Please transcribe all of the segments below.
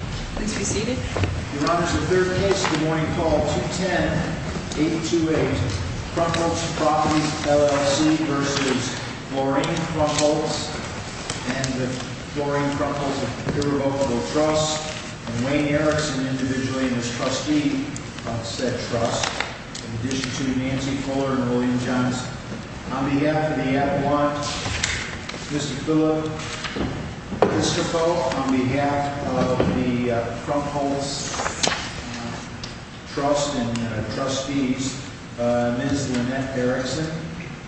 Properties LLC v. Florene Krumpholz and Florene Krumpholz of irrevocable trust and Wayne Erickson individually and his trustee of said trust, in addition to Nancy Fuller and William Jones. On behalf of the At One, Mr. Fuller, Mr. Fuller, on behalf of the Krumpholz trust and trustees, Ms. Lynette Erickson,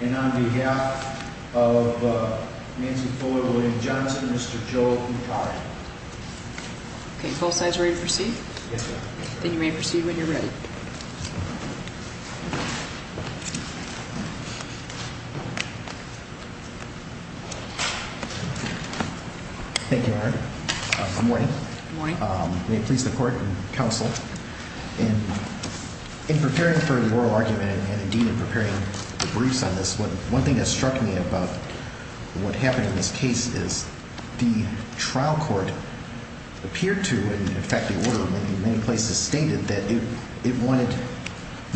and on behalf of Nancy Fuller, William Johnson, Mr. Joel Yukari. Okay, both sides ready to proceed? Yes, ma'am. Then you may proceed when you're ready. Thank you, Your Honor. Good morning. Good morning. May it please the court and counsel, in preparing for the oral argument and indeed in preparing the briefs on this one, one thing that struck me about what happened in this case is the trial court appeared to, in fact, the order of many places stated that it wanted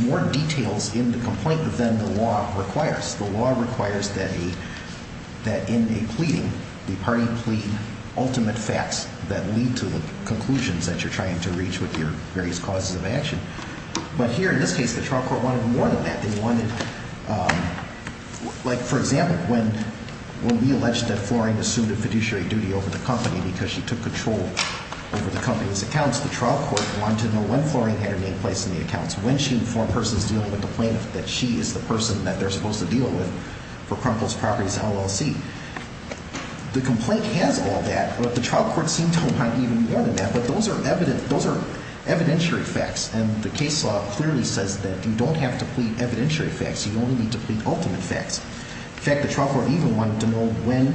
more details in the complaint than the law required. The law requires that in a pleading, the party plead ultimate facts that lead to the conclusions that you're trying to reach with your various causes of action. But here, in this case, the trial court wanted more than that. They wanted, like, for example, when we alleged that Florene assumed a fiduciary duty over the company because she took control over the company's accounts, the trial court wanted to know when Florene had her name placed in the accounts. When she, the foreign person, is dealing with the plaintiff, that she is the person that they're supposed to deal with for Krunkle's Properties LLC. The complaint has all that, but the trial court seemed to want even more than that. But those are evident, those are evidentiary facts. And the case law clearly says that you don't have to plead evidentiary facts. You only need to plead ultimate facts. In fact, the trial court even wanted to know when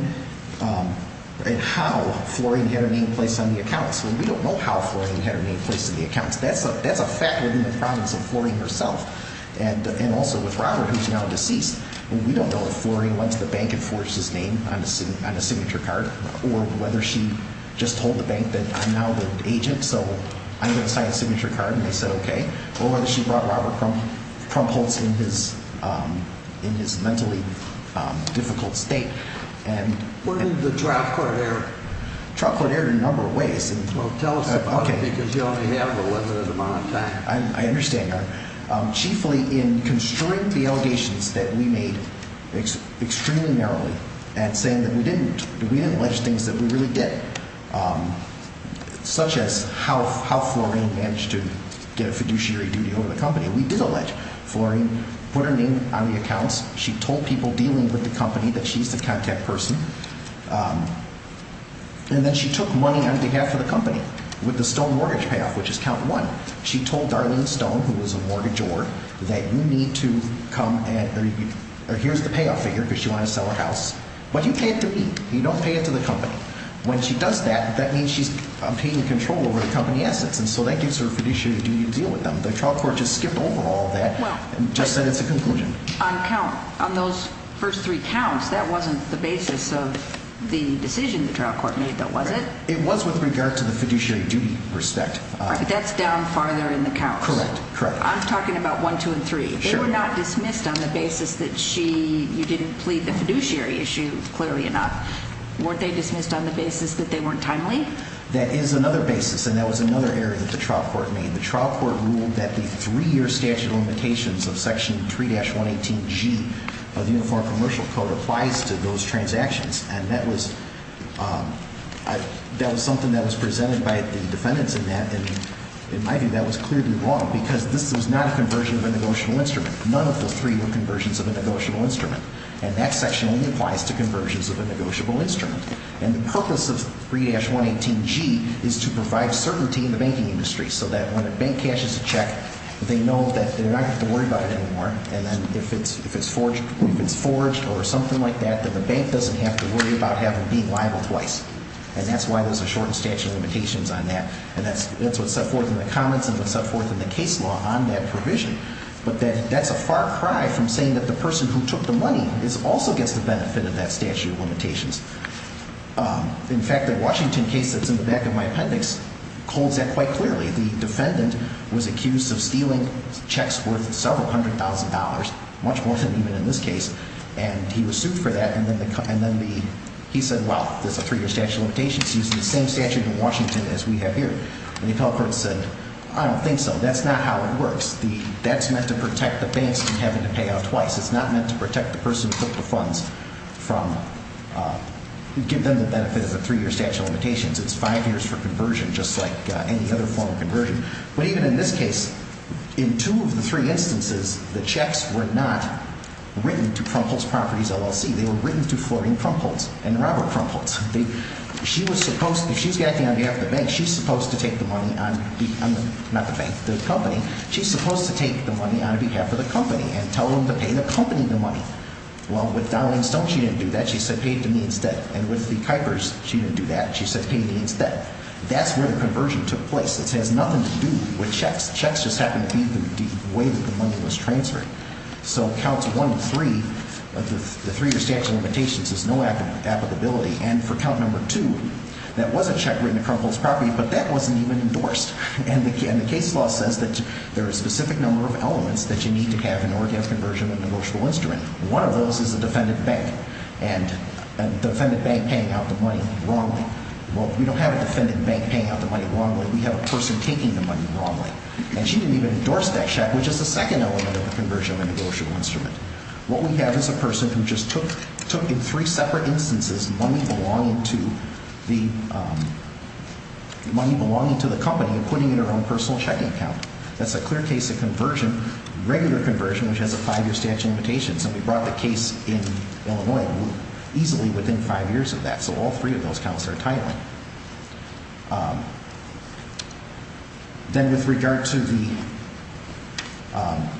and how Florene had her name placed on the accounts. And we don't know how Florene had her name placed in the accounts. That's a fact within the province of Florene herself, and also with Robert, who's now deceased. And we don't know if Florene went to the bank and forged his name on a signature card, or whether she just told the bank that I'm now the agent, so I'm going to sign a signature card, and they said okay. Or whether she brought Robert Krumpholz in his mentally difficult state. And- Where did the trial court err? Trial court erred in a number of ways. Well, tell us about it, because you only have a limited amount of time. I understand, Your Honor. Chiefly, in construing the allegations that we made extremely narrowly, and saying that we didn't, that we didn't allege things that we really did. Such as how Florene managed to get a fiduciary duty over the company. We did allege Florene put her name on the accounts. She told people dealing with the company that she's the contact person. And then she took money on behalf of the company, with the stone mortgage payoff, which is count one. She told Darlene Stone, who was a mortgagor, that you need to come and- or here's the payoff figure, because she wanted to sell her house. But you pay it to me. You don't pay it to the company. When she does that, that means she's obtaining control over the company assets. And so that gives her a fiduciary duty to deal with them. The trial court just skipped over all of that, and just said it's a conclusion. On count, on those first three counts, that wasn't the basis of the decision the trial court made, though, was it? It was with regard to the fiduciary duty respect. But that's down farther in the counts. Correct, correct. I'm talking about one, two, and three. They were not dismissed on the basis that she- you didn't plead the fiduciary issue, clearly enough. Weren't they dismissed on the basis that they weren't timely? That is another basis, and that was another error that the trial court made. The trial court ruled that the three-year statute of limitations of section 3-118G of the Uniform Commercial Code applies to those transactions. And that was- that was something that was presented by the defendants in that. And I think that was clearly wrong, because this was not a conversion of a negotiable instrument. None of the three were conversions of a negotiable instrument. And that section only applies to conversions of a negotiable instrument. And the purpose of 3-118G is to provide certainty in the banking industry so that when a bank cashes a check, they know that they don't have to worry about it anymore. And then if it's forged or something like that, then the bank doesn't have to worry about having to be liable twice. And that's why there's a shortened statute of limitations on that. And that's what's set forth in the comments and what's set forth in the case law on that provision. But that's a far cry from saying that the person who took the money also gets the benefit of that statute of limitations. In fact, the Washington case that's in the back of my appendix holds that quite clearly. The defendant was accused of stealing checks worth several hundred thousand dollars, much more than even in this case. And he was sued for that. And then the- and then the- he said, well, there's a three-year statute of limitations using the same statute in Washington as we have here. And the appellate court said, I don't think so. That's not how it works. The- that's meant to protect the banks from having to pay out twice. It's not meant to protect the person who took the funds from- give them the benefit of a three-year statute of limitations. It's five years for conversion, just like any other form of conversion. But even in this case, in two of the three instances, the checks were not written to Krumpholtz Properties, LLC. They were written to Florine Krumpholtz and Robert Krumpholtz. They- she was supposed- if she's acting on behalf of the bank, she's supposed to take the money on the- not the bank, the company. She's supposed to take the money on behalf of the company and tell them to pay the company the money. Well, with Dowling Stone, she didn't do that. She said, pay it to me instead. And with the Kuipers, she didn't do that. She said, pay me instead. That's where the conversion took place. This has nothing to do with checks. Checks just happened to be the way that the money was transferred. So, counts one to three of the three-year statute of limitations is no applicability. And for count number two, that was a check written to Krumpholtz Properties, but that wasn't even endorsed. And the case law says that there are a specific number of elements that you need to have in order to have conversion of a negotiable instrument. One of those is a defendant bank, and a defendant bank paying out the money wrongly. Well, we don't have a defendant bank paying out the money wrongly. We have a person taking the money wrongly. And she didn't even endorse that check, which is the second element of the conversion of a negotiable instrument. What we have is a person who just took, in three separate instances, money belonging to the company and putting it in her own personal checking account. That's a clear case of conversion, regular conversion, which has a five-year statute of limitations. And we brought the case in Illinois easily within five years of that. So all three of those counts are title-in. Then with regard to the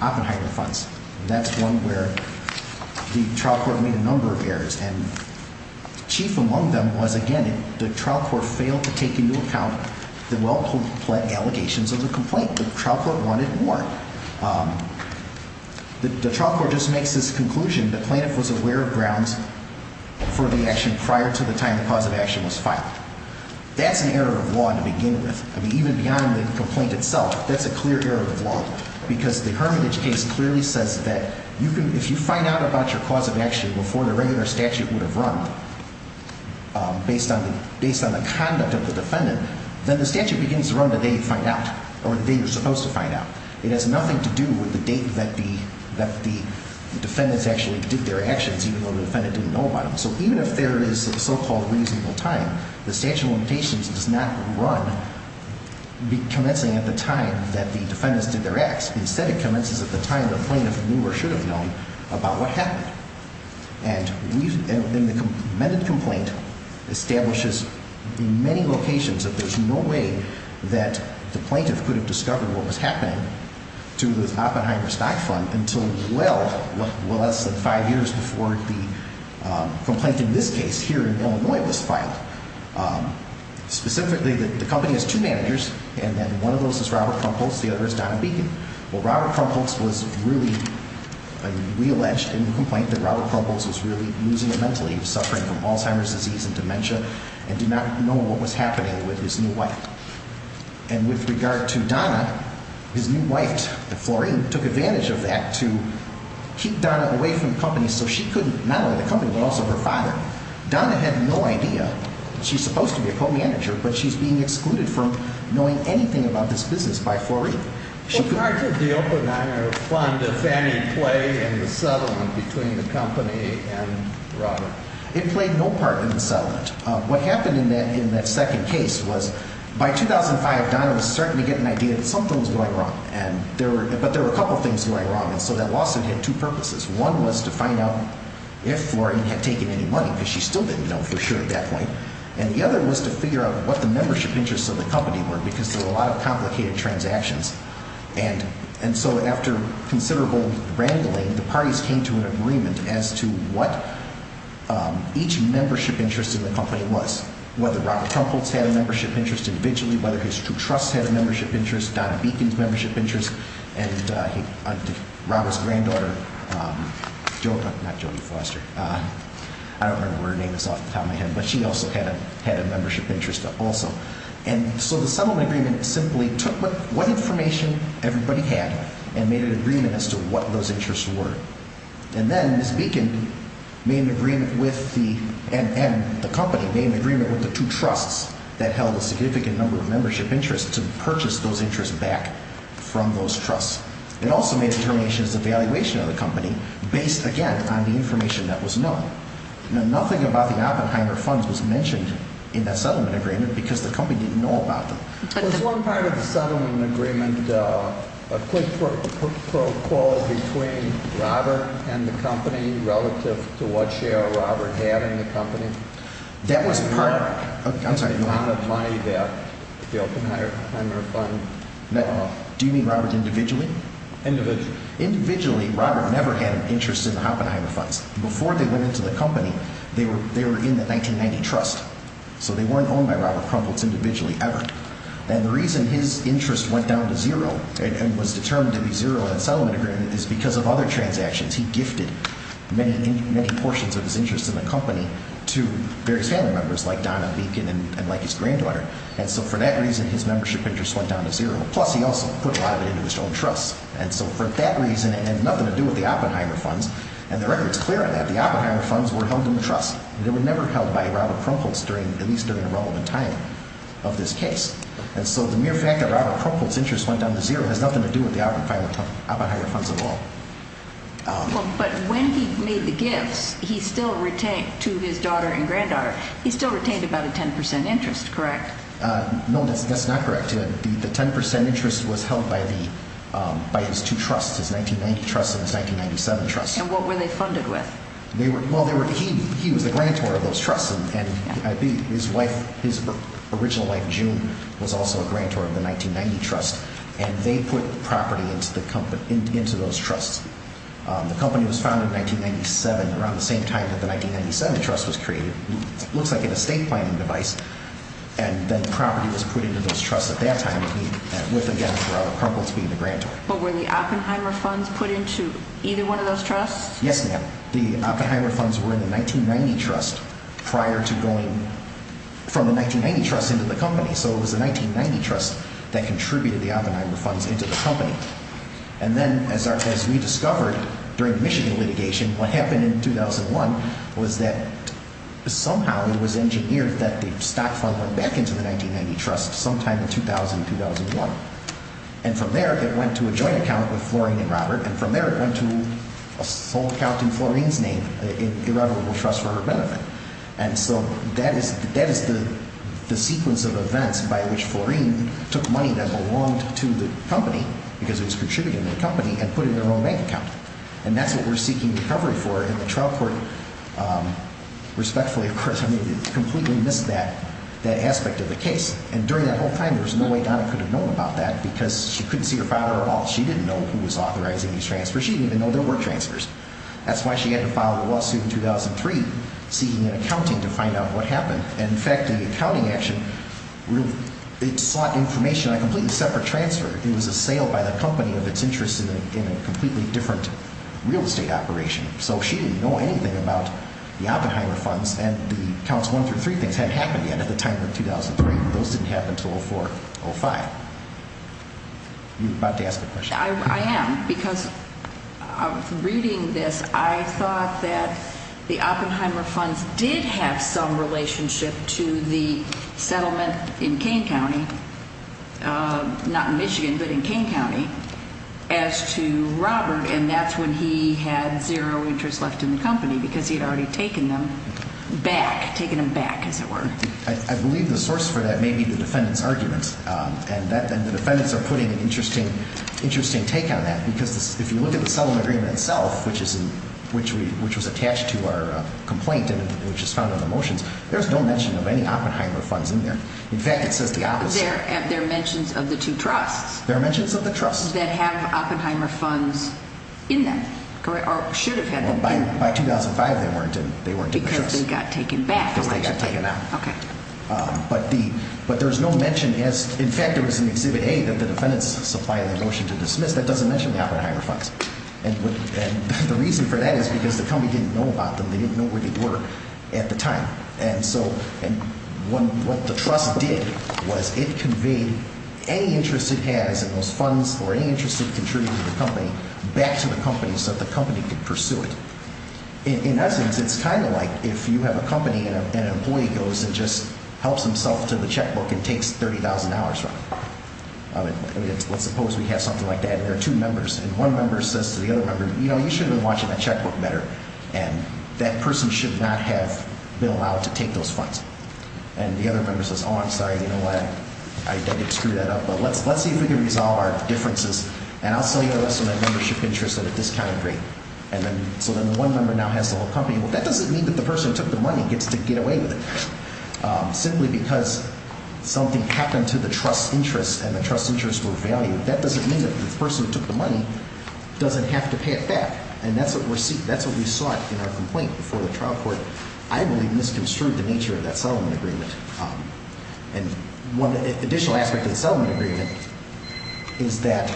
Oppenheimer funds, that's one where the trial court made a number of errors. And chief among them was, again, the trial court failed to take into account the well-completed allegations of the complaint. The trial court wanted more. The trial court just makes this conclusion, the plaintiff was aware of grounds for the action prior to the time the cause of action was filed. That's an error of law to begin with. I mean, even beyond the complaint itself, that's a clear error of law. Because the Hermitage case clearly says that if you find out about your cause of action before the regular statute would have run, based on the conduct of the defendant, then the statute begins to run the day you find out, or the day you're supposed to find out. It has nothing to do with the date that the defendants actually did their actions, even though the defendant didn't know about them. So even if there is a so-called reasonable time, the statute of limitations does not run commencing at the time that the defendants did their acts. Instead, it commences at the time the plaintiff knew or should have known about what happened. And the amended complaint establishes in many locations that there's no way that the plaintiff could have discovered what was happening to the Oppenheimer stock fund until well, less than five years before the complaint in this case here in Illinois was filed. Specifically, the company has two managers, and then one of those is Robert Crumpholz, the other is Donna Beacon. Well, Robert Crumpholz was really, we allege in the complaint that Robert Crumpholz was really losing it mentally, suffering from Alzheimer's disease and dementia, and did not know what was happening with his new wife. And with regard to Donna, his new wife, Florine, took advantage of that to keep Donna away from the company so she couldn't, not only the company, but also her father. Donna had no idea, she's supposed to be a co-manager, but she's being excluded from knowing anything about this business by Florine. In regards to the Oppenheimer fund, did any play in the settlement between the company and Robert? What happened in that second case was, by 2005, Donna was starting to get an idea that something was going wrong, but there were a couple things going wrong, and so that lawsuit had two purposes. One was to find out if Florine had taken any money, because she still didn't know for sure at that point, and the other was to figure out what the membership interests of the company were, because there were a lot of complicated transactions. And so after considerable wrangling, the parties came to an agreement as to what each membership interest in the company was, whether Robert Crumpholz had a membership interest individually, whether his two trusts had a membership interest, Donna Beacon's membership interest, and Robert's granddaughter, not Jodie Foster, I don't remember her name off the top of my head, but she also had a membership interest also. And so the settlement agreement simply took what information everybody had and made an agreement as to what those interests were. And then Ms. Beacon made an agreement with the, and the company made an agreement with the two trusts that held a significant number of membership interests to purchase those interests back from those trusts. It also made a determination as to the valuation of the company based, again, on the information that was known. Now, nothing about the Oppenheimer funds was mentioned in that settlement agreement, because the company didn't know about them. There was one part of the settlement agreement, a quick pro-qual between Robert and the company relative to what share Robert had in the company, and the amount of money that the Oppenheimer fund... Do you mean Robert individually? Individually. Individually, Robert never had an interest in the Oppenheimer funds. Before they went into the company, they were, they were in the 1990 trust, so they weren't owned by Robert Krumplitz individually ever. And the reason his interest went down to zero and was determined to be zero in the settlement agreement is because of other transactions. He gifted many, many portions of his interest in the company to various family members like Donna Beacon and like his granddaughter. And so for that reason, his membership interest went down to zero. Plus, he also put a lot of it into his own trust. And so for that reason, it had nothing to do with the Oppenheimer funds. And the record's clear on that. The Oppenheimer funds were held in the trust. They were never held by Robert Krumplitz during, at least during a relevant time of this case. And so the mere fact that Robert Krumplitz's interest went down to zero has nothing to do with the Oppenheimer funds at all. But when he made the gifts, he still retained, to his daughter and granddaughter, he still retained about a 10% interest, correct? No, that's not correct. The 10% interest was held by his two trusts, his 1990 trust and his 1997 trust. And what were they funded with? He was the grantor of those trusts. And his wife, his original wife, June, was also a grantor of the 1990 trust. And they put property into those trusts. The company was founded in 1997, around the same time that the 1997 trust was created. It looks like an estate planning device. And then property was put into those trusts at that time with, again, Robert Krumplitz being the grantor. But were the Oppenheimer funds put into either one of those trusts? Yes, ma'am. The Oppenheimer funds were in the 1990 trust prior to going from the 1990 trust into the company. So it was the 1990 trust that contributed the Oppenheimer funds into the company. And then, as we discovered during the Michigan litigation, what happened in 2001 was that somehow it was engineered that the stock fund went back into the 1990 trust sometime in 2000, 2001. And from there, it went to a joint account with Florine and Robert. And from there, it went to a sole account in Florine's name in Irrevorable Trust for her benefit. And so that is the sequence of events by which Florine took money that belonged to the company, because it was contributing to the company, and put it in their own bank account. And that's what we're seeking recovery for. And the trial court, respectfully, of course, I mean, completely missed that aspect of the case. And during that whole time, there was no way Donna could have known about that, because she couldn't see her father at all. She didn't know who was authorizing these transfers. She didn't even know there were transfers. That's why she had to file a lawsuit in 2003, seeking an accounting to find out what happened. And in fact, the accounting action, it sought information on a completely separate transfer. It was a sale by the company of its interest in a completely different real estate operation. So she didn't know anything about the Oppenheimer funds. And the counts one through three things hadn't happened yet at the time of 2003. Those didn't happen until 04, 05. You're about to ask a question. I am, because reading this, I thought that the Oppenheimer funds did have some relationship to the settlement in Kane County, not in Michigan, but in Kane County, as to Robert. And that's when he had zero interest left in the company, because he had already taken them back. Taken them back, as it were. I believe the source for that may be the defendant's argument. And the defendants are putting an interesting take on that. Because if you look at the settlement agreement itself, which was attached to our complaint, which is found on the motions, there's no mention of any Oppenheimer funds in there. In fact, it says the opposite. There are mentions of the two trusts. There are mentions of the trusts. That have Oppenheimer funds in them, or should have had them. By 2005, they weren't in the trusts. Because they got taken back. Because they got taken out. Okay. But there's no mention. In fact, there was an Exhibit A that the defendants supplied the motion to dismiss. That doesn't mention the Oppenheimer funds. And the reason for that is because the company didn't know about them. They didn't know where they were at the time. And so what the trust did was it conveyed any interest it had, as in those funds, or any interest it contributed to the company, back to the company so that the company could pursue it. In essence, it's kind of like if you have a company and an employee goes and just helps himself to the checkbook and takes $30,000 from it. Let's suppose we have something like that. And there are two members. And one member says to the other member, you know, you should have been watching that checkbook better. And that person should not have been allowed to take those funds. And the other member says, oh, I'm sorry. You know what? I did screw that up. But let's see if we can resolve our differences. And I'll sell you the rest of my membership interest at a discounted rate. And then so then the one member now has the whole company. Well, that doesn't mean that the person who took the money gets to get away with it. Simply because something happened to the trust's interest and the trust's interest were valued. That doesn't mean that the person who took the money doesn't have to pay it back. And that's what we're seeing. And that's what we saw in our complaint before the trial court. I believe misconstrued the nature of that settlement agreement. And one additional aspect of the settlement agreement is that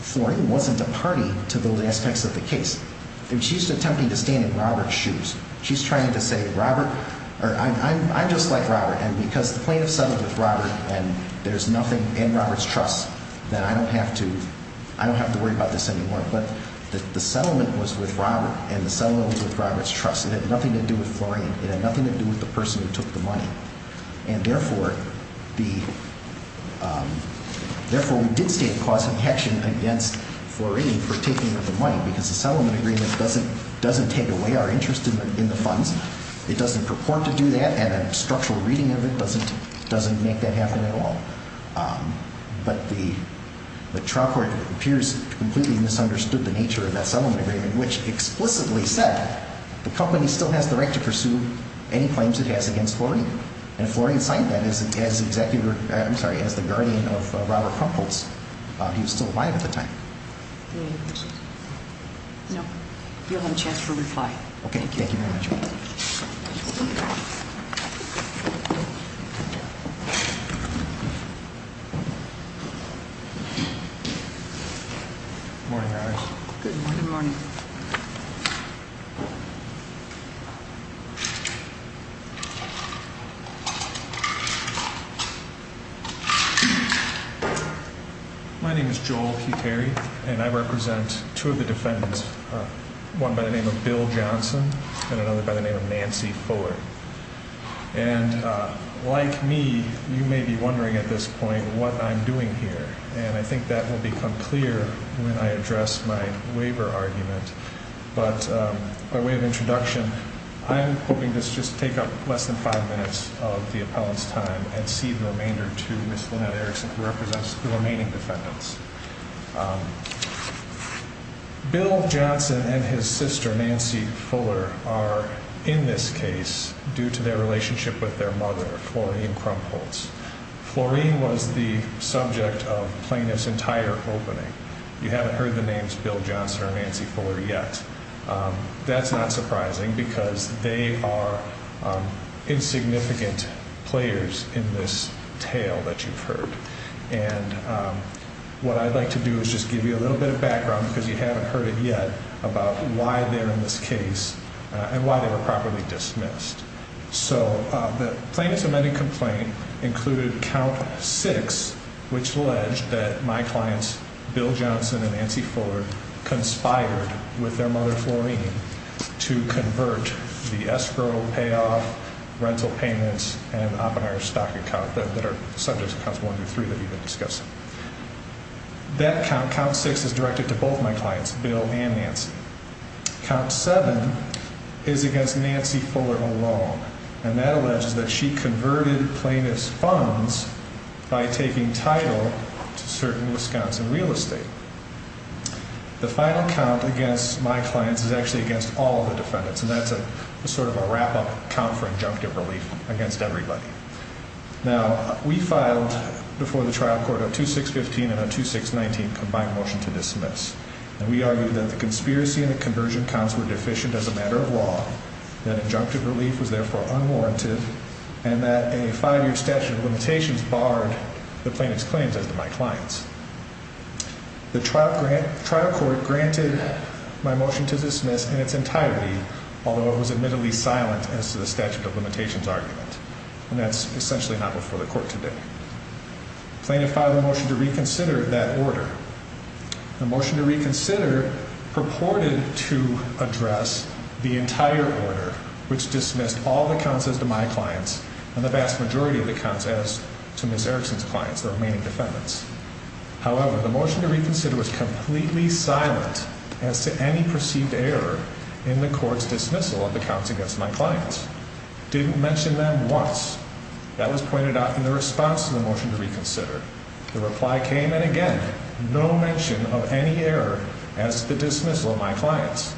Flory wasn't a party to those aspects of the case. And she's attempting to stand in Robert's shoes. She's trying to say, Robert, or I'm just like Robert. And because the plaintiff settled with Robert and there's nothing in Robert's trust, then I don't have to I don't have to worry about this anymore. But the settlement was with Robert and the settlement was with Robert's trust. It had nothing to do with Flory. It had nothing to do with the person who took the money. And therefore, we did state a cause of action against Flory for taking the money. Because the settlement agreement doesn't take away our interest in the funds. It doesn't purport to do that. And a structural reading of it doesn't make that happen at all. But the trial court appears to have completely misunderstood the nature of that settlement agreement, which explicitly said the company still has the right to pursue any claims it has against Flory. And Flory had signed that as the executor, I'm sorry, as the guardian of Robert Crumple's. He was still alive at the time. No, you'll have a chance to reply. Okay, thank you very much. Good morning, my name is Joel Terry, and I represent two of the defendants, one by the name of Bill Johnson and another by the name of Nancy Fuller. And like me, you may be wondering at this point what I'm doing here. And I think that will become clear when I address my waiver argument. But by way of introduction, I'm hoping this just take up less than five minutes of the appellant's time and see the remainder to Ms. Lynette Erickson, who represents the remaining defendants. Bill Johnson and his sister, Nancy Fuller, are in this case due to their relationship with their mother, Florine Crumples. Florine was the subject of plaintiff's entire opening. You haven't heard the names Bill Johnson or Nancy Fuller yet. That's not surprising because they are insignificant players in this tale that you've heard. And what I'd like to do is just give you a little bit of background because you haven't heard it yet about why they're in this case and why they were properly dismissed. So the plaintiff's amended complaint included count six, which alleged that my clients, Bill Johnson and Nancy Fuller, conspired with their mother, Florine, to convert the escrow that you've been discussing. That count six is directed to both my clients, Bill and Nancy. Count seven is against Nancy Fuller alone, and that alleges that she converted plaintiff's funds by taking title to certain Wisconsin real estate. The final count against my clients is actually against all the defendants, and that's a sort of a wrap-up count for injunctive relief against everybody. Now, we filed before the trial court a 2615 and a 2619 combined motion to dismiss, and we argued that the conspiracy and the conversion counts were deficient as a matter of law, that injunctive relief was therefore unwarranted, and that a five-year statute of limitations barred the plaintiff's claims as to my clients. The trial court granted my motion to dismiss in its entirety, although it was admittedly silent as to the statute of limitations argument. And that's essentially not before the court today. Plaintiff filed a motion to reconsider that order. The motion to reconsider purported to address the entire order, which dismissed all the counts as to my clients and the vast majority of the counts as to Ms. Erickson's clients, the remaining defendants. However, the motion to reconsider was completely silent as to any perceived error in the court's dismissal of the counts against my clients. Didn't mention them once. That was pointed out in the response to the motion to reconsider. The reply came, and again, no mention of any error as to the dismissal of my clients.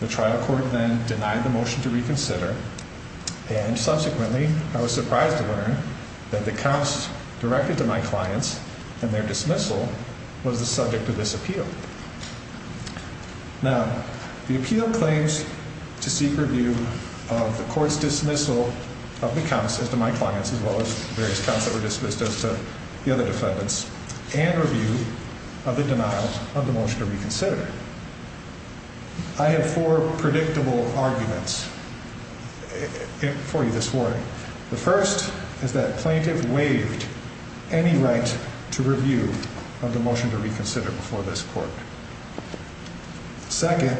The trial court then denied the motion to reconsider, and subsequently, I was surprised to learn that the counts directed to my clients and their dismissal was the subject of this appeal. Now, the appeal claims to seek review of the court's dismissal of the counts as to my clients, as well as various counts that were dismissed as to the other defendants and review of the denial of the motion to reconsider. I have four predictable arguments for you this morning. The first is that plaintiff waived any right to review of the motion to reconsider before this court. Second,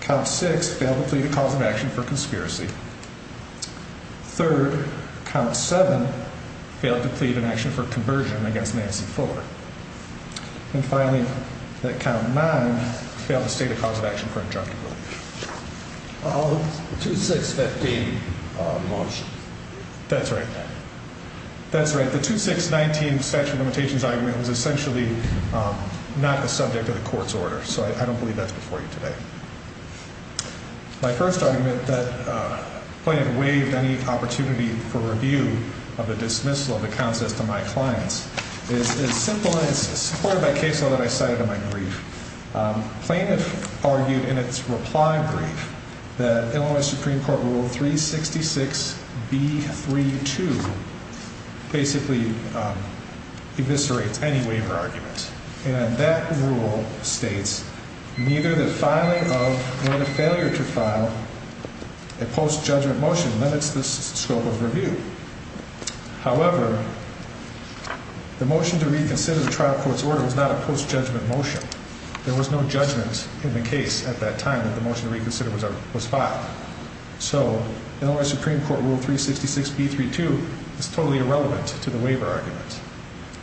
count six failed to plead a cause of action for conspiracy. Third, count seven failed to plead an action for conversion against Nancy Ford. And finally, that count nine failed to state a cause of action for injunctive relief. 2615 motion. That's right. That's right. The 2619 statute of limitations argument was essentially not a subject of the court's order, so I don't believe that's before you today. My first argument that plaintiff waived any opportunity for review of the dismissal of the counts as to my clients is as simple as supported by case law that I cited in my brief. Plaintiff argued in its reply brief that Illinois Supreme Court rule 366 B32 basically eviscerates any waiver argument. And that rule states neither the filing of nor the failure to file a post judgment motion limits the scope of review. However, the motion to reconsider the trial court's order was not a post judgment motion. There was no judgment in the case at that time that the motion to reconsider was filed. So Illinois Supreme Court rule 366 B32 is totally irrelevant to the waiver argument.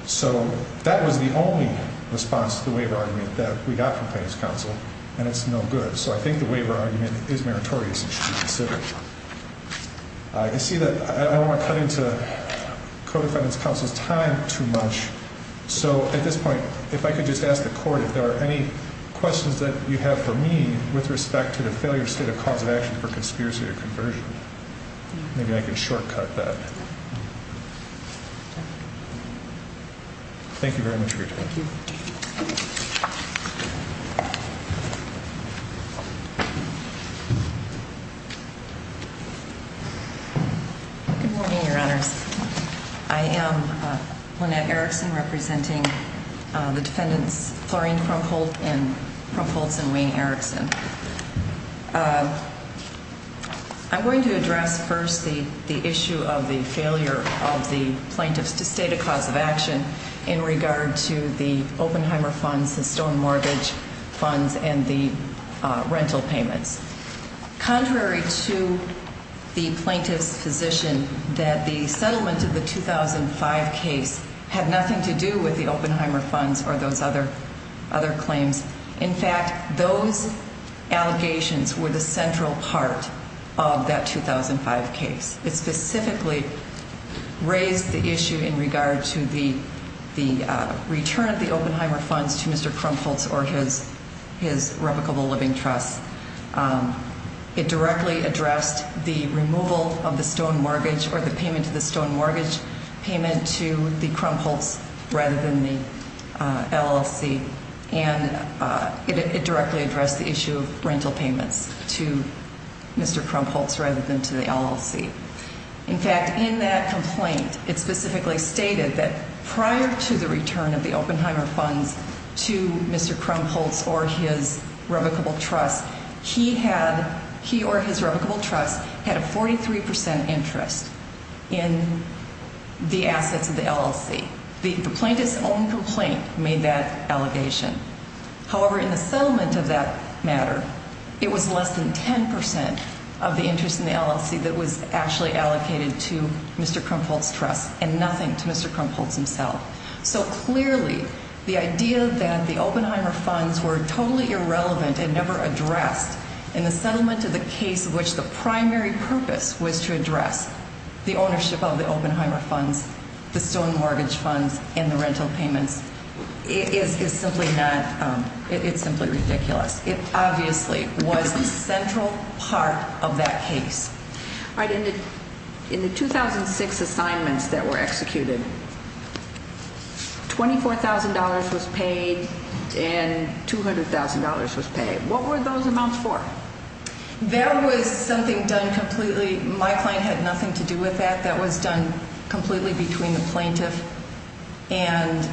So that was the only response to the waiver argument that we got from plaintiff's counsel, and it's no good. So I think the waiver argument is meritorious and should be considered. You see that I don't want to cut into codefendant's counsel's time too much. So at this point, if I could just ask the court if there are any questions that you have for me with respect to the failure state of cause of action for conspiracy to conversion. Maybe I can shortcut that. Thank you very much for your time. Good morning, your honors. I am Lynette Erickson representing the defendants Florine Krumpholtz and Wayne Erickson. I'm going to address first the issue of the failure of the plaintiffs to state a cause of action in regard to the Oppenheimer funds, the Stone Mortgage funds, and the rental payments. Contrary to the plaintiff's position that the settlement of the 2005 case had nothing to do with the Oppenheimer funds or those other claims, in fact, those allegations were the central part of that 2005 case. It specifically raised the issue in regard to the return of the Oppenheimer funds to Mr. Krumpholtz. It directly addressed the removal of the Stone Mortgage or the payment to the Stone Mortgage payment to the Krumpholtz rather than the LLC, and it directly addressed the issue of rental payments to Mr. Krumpholtz rather than to the LLC. In fact, in that complaint, it specifically stated that prior to the return of the Oppenheimer funds to Mr. Krumpholtz or his revocable trust, he or his revocable trust had a 43% interest in the assets of the LLC. The plaintiff's own complaint made that allegation. However, in the settlement of that matter, it was less than 10% of the interest in the LLC that was actually allocated to Mr. Krumpholtz's trust and nothing to Mr. Krumpholtz himself. So clearly, the idea that the Oppenheimer funds were totally irrelevant and never addressed in the settlement of the case of which the primary purpose was to address the ownership of the Oppenheimer funds, the Stone Mortgage funds, and the rental payments, it's simply ridiculous. It obviously was a central part of that case. All right. In the 2006 assignments that were executed, $24,000 was paid and $200,000 was paid. What were those amounts for? That was something done completely. My client had nothing to do with that. That was done completely between the plaintiff and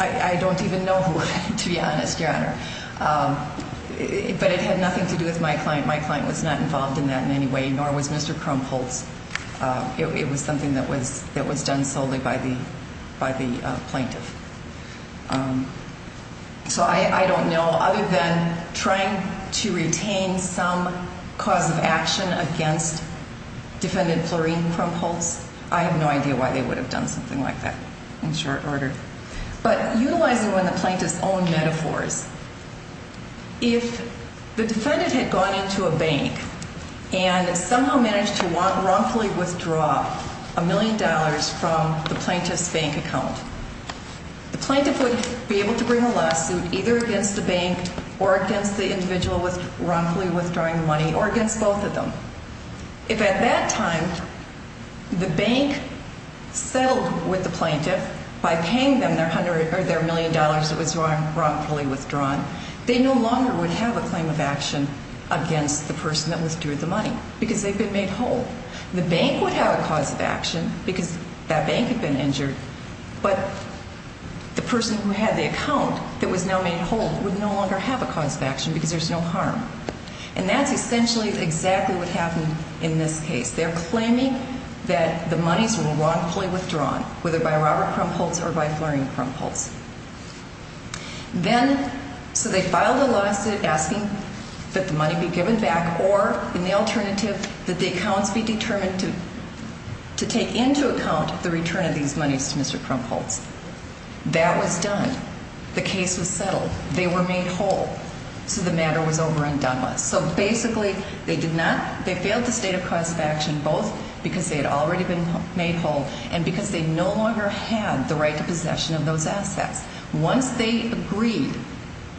I don't even know who, to be honest, Your Honor, but it had nothing to do with my client. My client was not involved in that in any way, nor was Mr. Krumpholtz. It was something that was done solely by the plaintiff. So I don't know. Other than trying to retain some cause of action against defendant Florine Krumpholtz, I have no idea why they would have done something like that in short order. But utilizing one of the plaintiff's own metaphors, if the defendant had gone into a bank and somehow managed to wrongfully withdraw a million dollars from the plaintiff's bank account, the plaintiff would be able to bring a lawsuit either against the bank or against the individual wrongfully withdrawing the money or against both of them. If at that time the bank settled with the plaintiff by paying them their million dollars that was wrongfully withdrawn, they no longer would have a claim of action against the person that withdrew the money because they've been made whole. The bank would have a cause of action because that bank had been injured, but the person who had the account that was now made whole would no longer have a cause of action because there's no harm. And that's essentially exactly what happened in this case. They're claiming that the monies were wrongfully withdrawn, whether by Robert Krumpholtz or by Florine Krumpholtz. Then, so they filed a lawsuit asking that the money be given back or in the alternative that the accounts be determined to take into account the return of these monies to Mr. Krumpholtz. That was done. The case was settled. They were made whole. So the matter was over and done with. So basically they did not, they failed to state a cause of action both because they had already been made whole and because they no longer had the right to possession of those assets. Once they agreed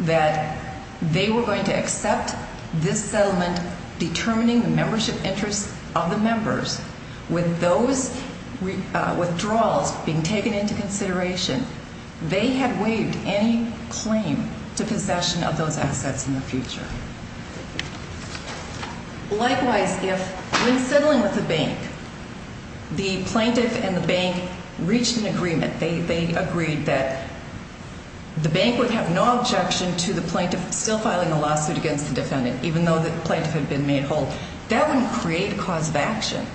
that they were going to accept this settlement determining the membership interests of the members with those withdrawals being taken into consideration, they had waived any claim to possession of those assets in the future. Likewise, if when settling with the bank, the plaintiff and the bank reached an agreement, they agreed that the bank would have no objection to the plaintiff still filing the lawsuit against the defendant, even though the plaintiff had been made whole. That wouldn't create a cause of action.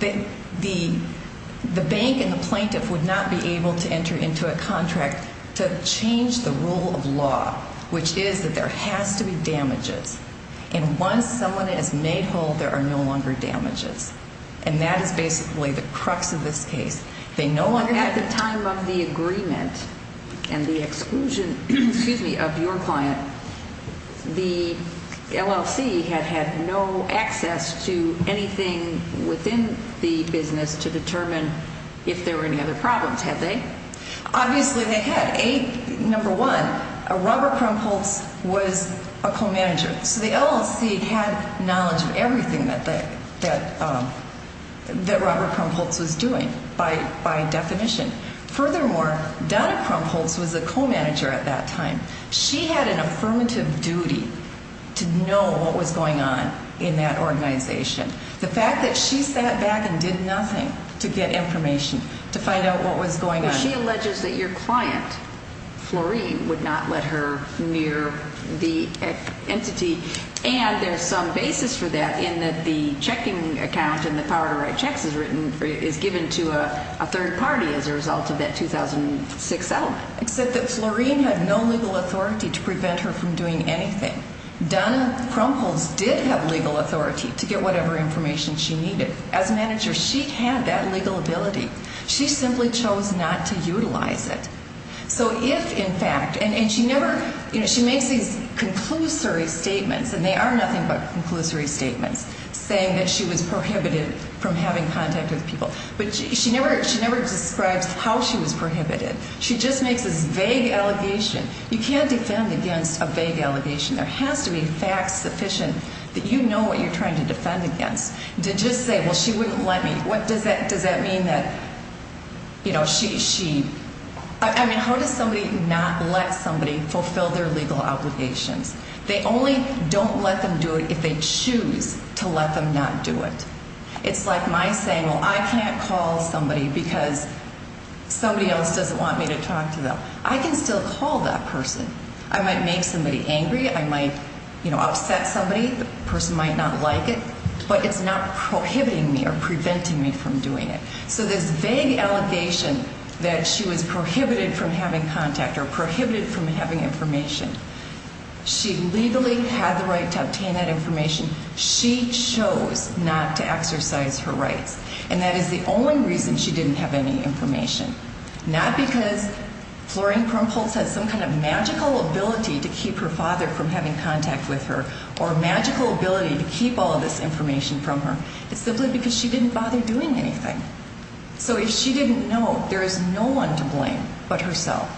They, the, the bank and the plaintiff would not be able to enter into a contract to change the rule of law, which is that there has to be damages. And once someone is made whole, there are no longer damages. And that is basically the crux of this case. They no longer have the time of the agreement and the exclusion, excuse me, of your client. The LLC had had no access to anything within the business to determine if there were any other problems, had they? Obviously they had. A, number one, Robert Krumpholtz was a co-manager. So the LLC had knowledge of everything that, that, that Robert Krumpholtz was doing by, by definition. Furthermore, Donna Krumpholtz was a co-manager at that time. She had an affirmative duty to know what was going on in that organization. The fact that she sat back and did nothing to get information, to find out what was going on. She alleges that your client, Florine, would not let her near the entity. And there's some basis for that in that the checking account and the power to write checks is written, is given to a third party as a result of that 2006 settlement. Except that Florine had no legal authority to prevent her from doing anything. Donna Krumpholtz did have legal authority to get whatever information she needed. As a manager, she had that legal ability. She simply chose not to utilize it. So if in fact, and she never, you know, she makes these conclusory statements and they are nothing but conclusory statements saying that she was prohibited from having contact with people. But she never, she never describes how she was prohibited. She just makes this vague allegation. You can't defend against a vague allegation. There has to be facts sufficient that you know what you're trying to defend against. To just say, well, she wouldn't let me. What does that, does that mean that, you know, she, she, I mean, how does somebody not let somebody fulfill their legal obligations? They only don't let them do it if they choose to let them not do it. It's like my saying, well, I can't call somebody because somebody else doesn't want me to talk to them. I can still call that person. I might make somebody angry. I might, you know, upset somebody. The person might not like it, but it's not prohibiting me or preventing me from doing it. So this vague allegation that she was prohibited from having contact or prohibited from having information, she legally had the right to obtain that information. She chose not to exercise her rights, and that is the only reason she didn't have any information. Not because Florine Krumpholtz has some kind of magical ability to keep her father from having contact with her or magical ability to keep all of this information from her. It's simply because she didn't bother doing anything. So if she didn't know, there is no one to blame but herself.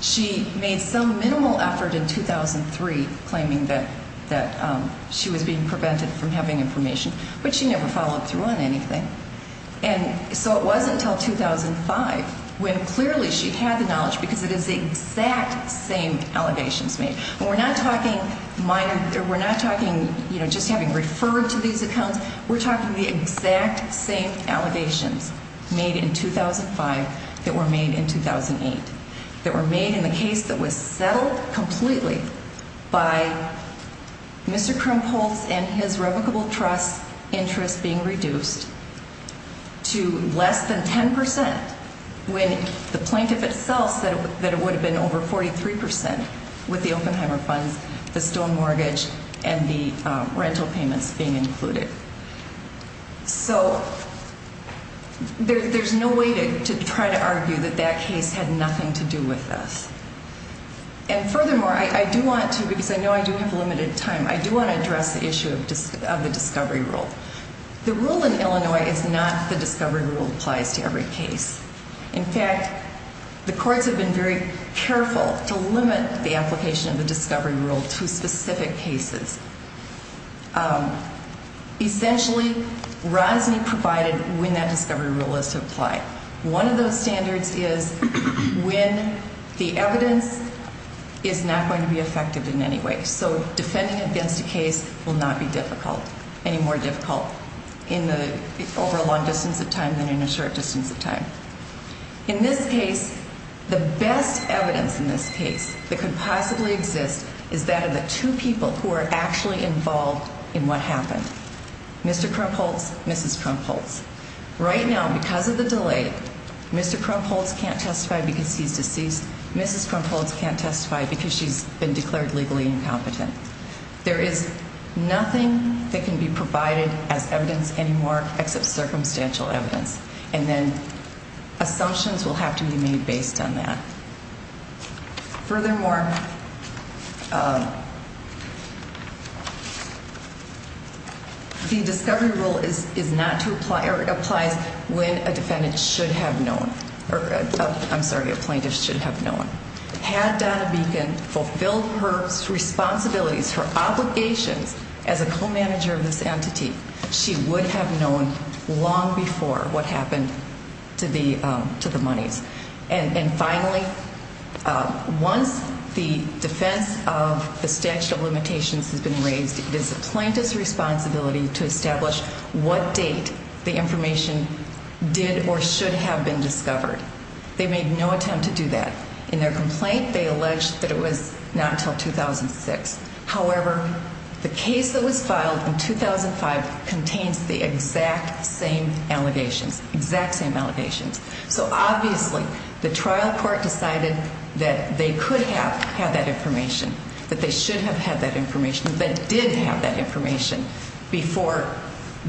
She made some minimal effort in 2003 claiming that she was being prevented from having information, but she never followed through on anything. And so it wasn't until 2005 when clearly she had the knowledge because it is the exact same allegations made. And we're not talking minor, we're not talking, you know, just having referred to these accounts. We're talking the exact same allegations made in 2005 that were made in 2008. That were made in the case that was settled completely by Mr. Krumpholtz and his revocable trust interest being reduced to less than 10% when the plaintiff itself said that it would have been over 43% with the Oppenheimer funds, the stone mortgage, and the rental payments being included. So there's no way to try to argue that that case had nothing to do with this. And furthermore, I do want to, because I know I do have limited time, I do want to address the issue of the discovery rule. The rule in Illinois is not the discovery rule applies to every case. In fact, the courts have been very careful to limit the application of the discovery rule to specific cases. Essentially, Rosny provided when that discovery rule is to apply. One of those standards is when the evidence is not going to be effective in any way. So defending against a case will not be difficult, any more difficult in the over a long distance of time than in a short distance of time. In this case, the best evidence in this case that could possibly exist is that of the two people who are actually involved in what happened. Mr. Krumpholtz, Mrs. Krumpholtz. Right now, because of the delay, Mr. Krumpholtz can't testify because he's deceased. Mrs. Krumpholtz can't testify because she's been declared legally incompetent. There is nothing that can be provided as evidence any more except circumstantial evidence. And then assumptions will have to be made based on that. Furthermore, the discovery rule is not to apply or it applies when a defendant should have known or I'm sorry, a plaintiff should have known. Had Donna Beacon fulfilled her responsibilities, her obligations as a co-manager of this entity, she would have known long before what happened to the monies. And finally, once the defense of the statute of limitations has been raised, it is the plaintiff's responsibility to establish what date the information did or should have been discovered. They made no attempt to do that. In their complaint, they alleged that it was not until 2006. However, the case that was filed in 2005 contains the exact same allegations, exact same allegations. So obviously, the trial court decided that they could have had that information, that they should have had that information, that did have that information before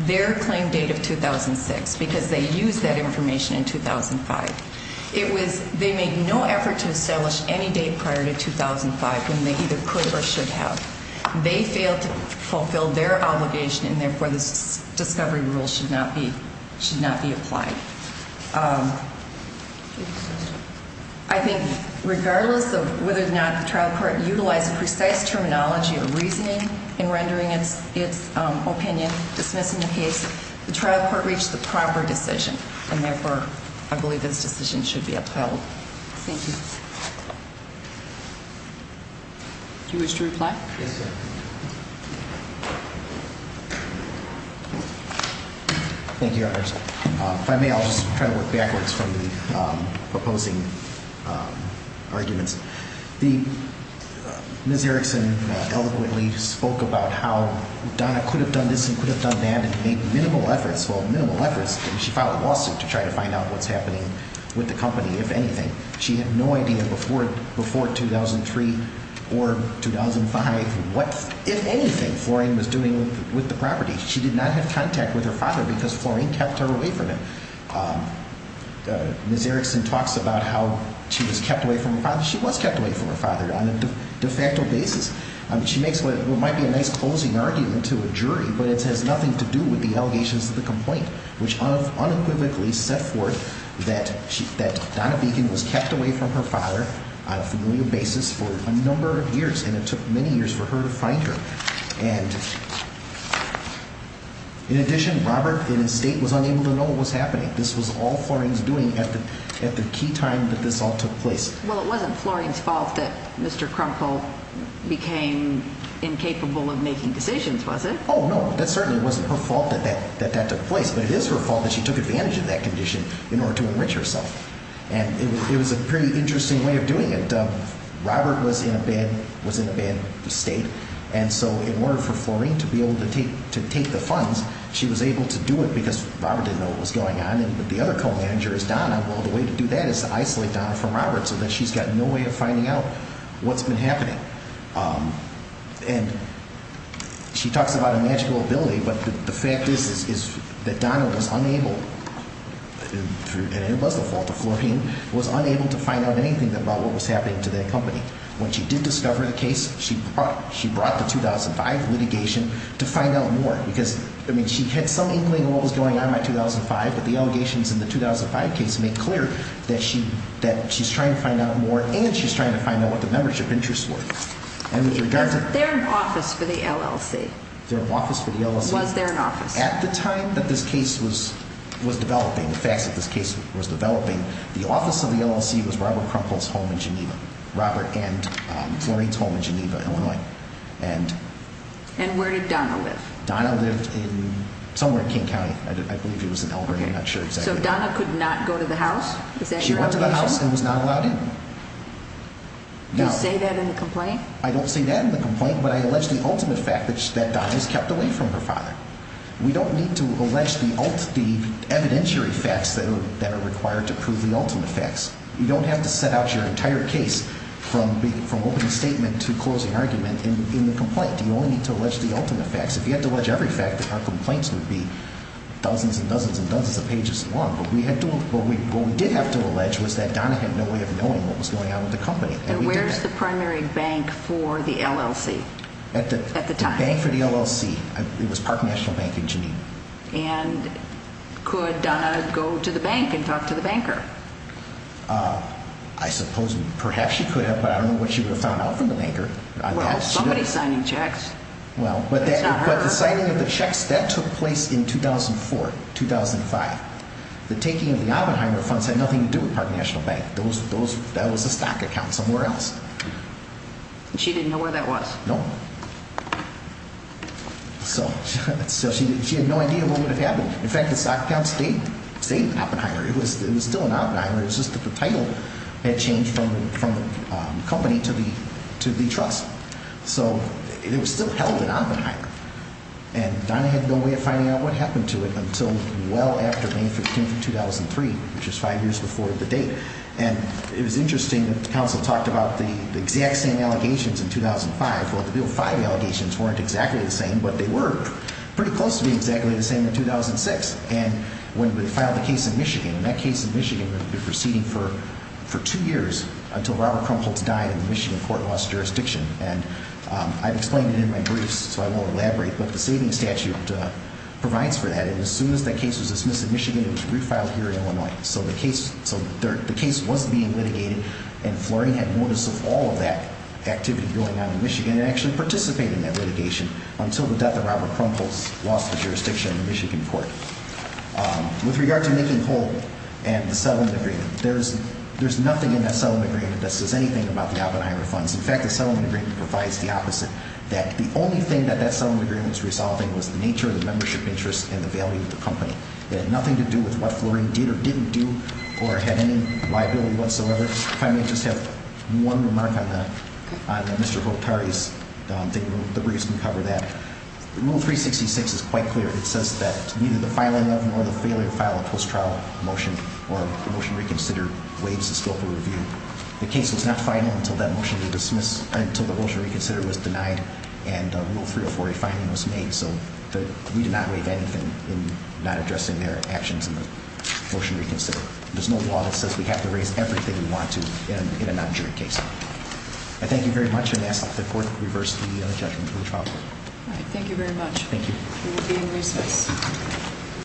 their claim date of 2006 because they used that information in 2005. It was they made no effort to establish any date prior to 2005 when they either could or should have. They failed to fulfill their obligation and therefore this discovery rule should not be should not be applied. I think regardless of whether or not the trial court utilized precise terminology or reasoning in rendering its opinion dismissing the case, the trial court reached the proper decision and therefore I believe this decision should be upheld. Thank you. You wish to reply? Yes, sir. Thank you, Your Honors. If I may, I'll just try to work backwards from the proposing arguments. The Ms. Erickson eloquently spoke about how Donna could have done this and could have done that and made minimal efforts. Well, minimal efforts. She filed a lawsuit to try to find out what's happening with the company, if anything. She had no idea before 2003 or 2005 what, if anything, Floraine was doing with the property. She did not have contact with her father because Floraine kept her away from him. Ms. Erickson talks about how she was kept away from her father. She was kept away from her father on a de facto basis. She makes what might be a nice closing argument to a jury but it has nothing to do with the allegations of the complaint which unequivocally set forth that Donna Beacon was kept away from her father on a familial basis for a number of years and it took many years for her to find her. And in addition, Robert in his state was unable to know what was happening. This was all Floraine's doing at the key time that this all took place. Well, it wasn't Floraine's fault that Mr. Crumple became incapable of making decisions, was it? Oh, no. That certainly wasn't her fault that that took place but it is her fault that she took advantage of that condition in order to enrich herself. And it was a pretty interesting way of doing it. Robert was in a bad state and so in order for Floraine to be able to take the funds, she was able to do it because Robert didn't know what was going on and the other co-manager is Donna. Well, the way to do that is to isolate Donna from Robert so that she's got no way of finding out what's been happening. And she talks about a magical ability but the fact is that Donna was unable, and it When she did discover the case, she brought the 2005 litigation to find out more because I mean, she had some inkling of what was going on by 2005 but the allegations in the 2005 case make clear that she's trying to find out more and she's trying to find out what the membership interests were. They're in office for the LLC. They're in office for the LLC. Was there an office? At the time that this case was developing, the facts of this case was developing, the Robert and Floraine's home in Geneva, Illinois. And where did Donna live? Donna lived in somewhere in King County. I believe it was in Elbridge. I'm not sure exactly. So Donna could not go to the house? She went to the house and was not allowed in. Do you say that in the complaint? I don't say that in the complaint but I allege the ultimate fact that Donna was kept away from her father. We don't need to allege the evidentiary facts that are required to prove the ultimate facts. You don't have to set out your entire case from opening statement to closing argument in the complaint. You only need to allege the ultimate facts. If you had to allege every fact, our complaints would be dozens and dozens and dozens of pages long. But what we did have to allege was that Donna had no way of knowing what was going on with the company. And where's the primary bank for the LLC at the time? The bank for the LLC, it was Park National Bank in Geneva. And could Donna go to the bank and talk to the banker? I suppose perhaps she could have, but I don't know what she would have found out from the banker. Well, somebody's signing checks. Well, but the signing of the checks, that took place in 2004, 2005. The taking of the Oppenheimer funds had nothing to do with Park National Bank. That was a stock account somewhere else. She didn't know where that was? No. So she had no idea what would have happened. In fact, the stock account stayed in Oppenheimer. It was still in Oppenheimer. The title had changed from the company to the trust. So it was still held in Oppenheimer. And Donna had no way of finding out what happened to it until well after May 15, 2003, which was five years before the date. And it was interesting that the counsel talked about the exact same allegations in 2005. Well, the Bill 5 allegations weren't exactly the same, but they were pretty close to being exactly the same in 2006. And when we filed the case in Michigan, and that case in Michigan was proceeding for two years until Robert Krumholtz died and the Michigan court lost jurisdiction. And I've explained it in my briefs, so I won't elaborate, but the saving statute provides for that. And as soon as that case was dismissed in Michigan, it was refiled here in Illinois. So the case was being litigated and Fleury had notice of all of that activity going on in Michigan and actually participated in that litigation until the death of Robert Krumholtz lost the jurisdiction in the Michigan court. With regard to making whole and the settlement agreement, there's nothing in that settlement agreement that says anything about the Oppenheimer funds. In fact, the settlement agreement provides the opposite, that the only thing that that settlement agreement was resolving was the nature of the membership interest and the value of the company. It had nothing to do with what Fleury did or didn't do or had any liability whatsoever. If I may just have one remark on Mr. Holtari's thing, the briefs can cover that. Rule 366 is quite clear. It says that neither the filing of nor the failure to file a post-trial motion or the motion reconsider waives the scope of review. The case was not final until that motion was dismissed, until the motion reconsider was denied and Rule 304, a finding was made. So we did not waive anything in not addressing their actions in the motion reconsider. There's no law that says we have to raise everything we want to in a non-jury case. I thank you very much and ask that the court reverse the judgment for the trial court. All right. Thank you very much. Thank you. We will be in recess.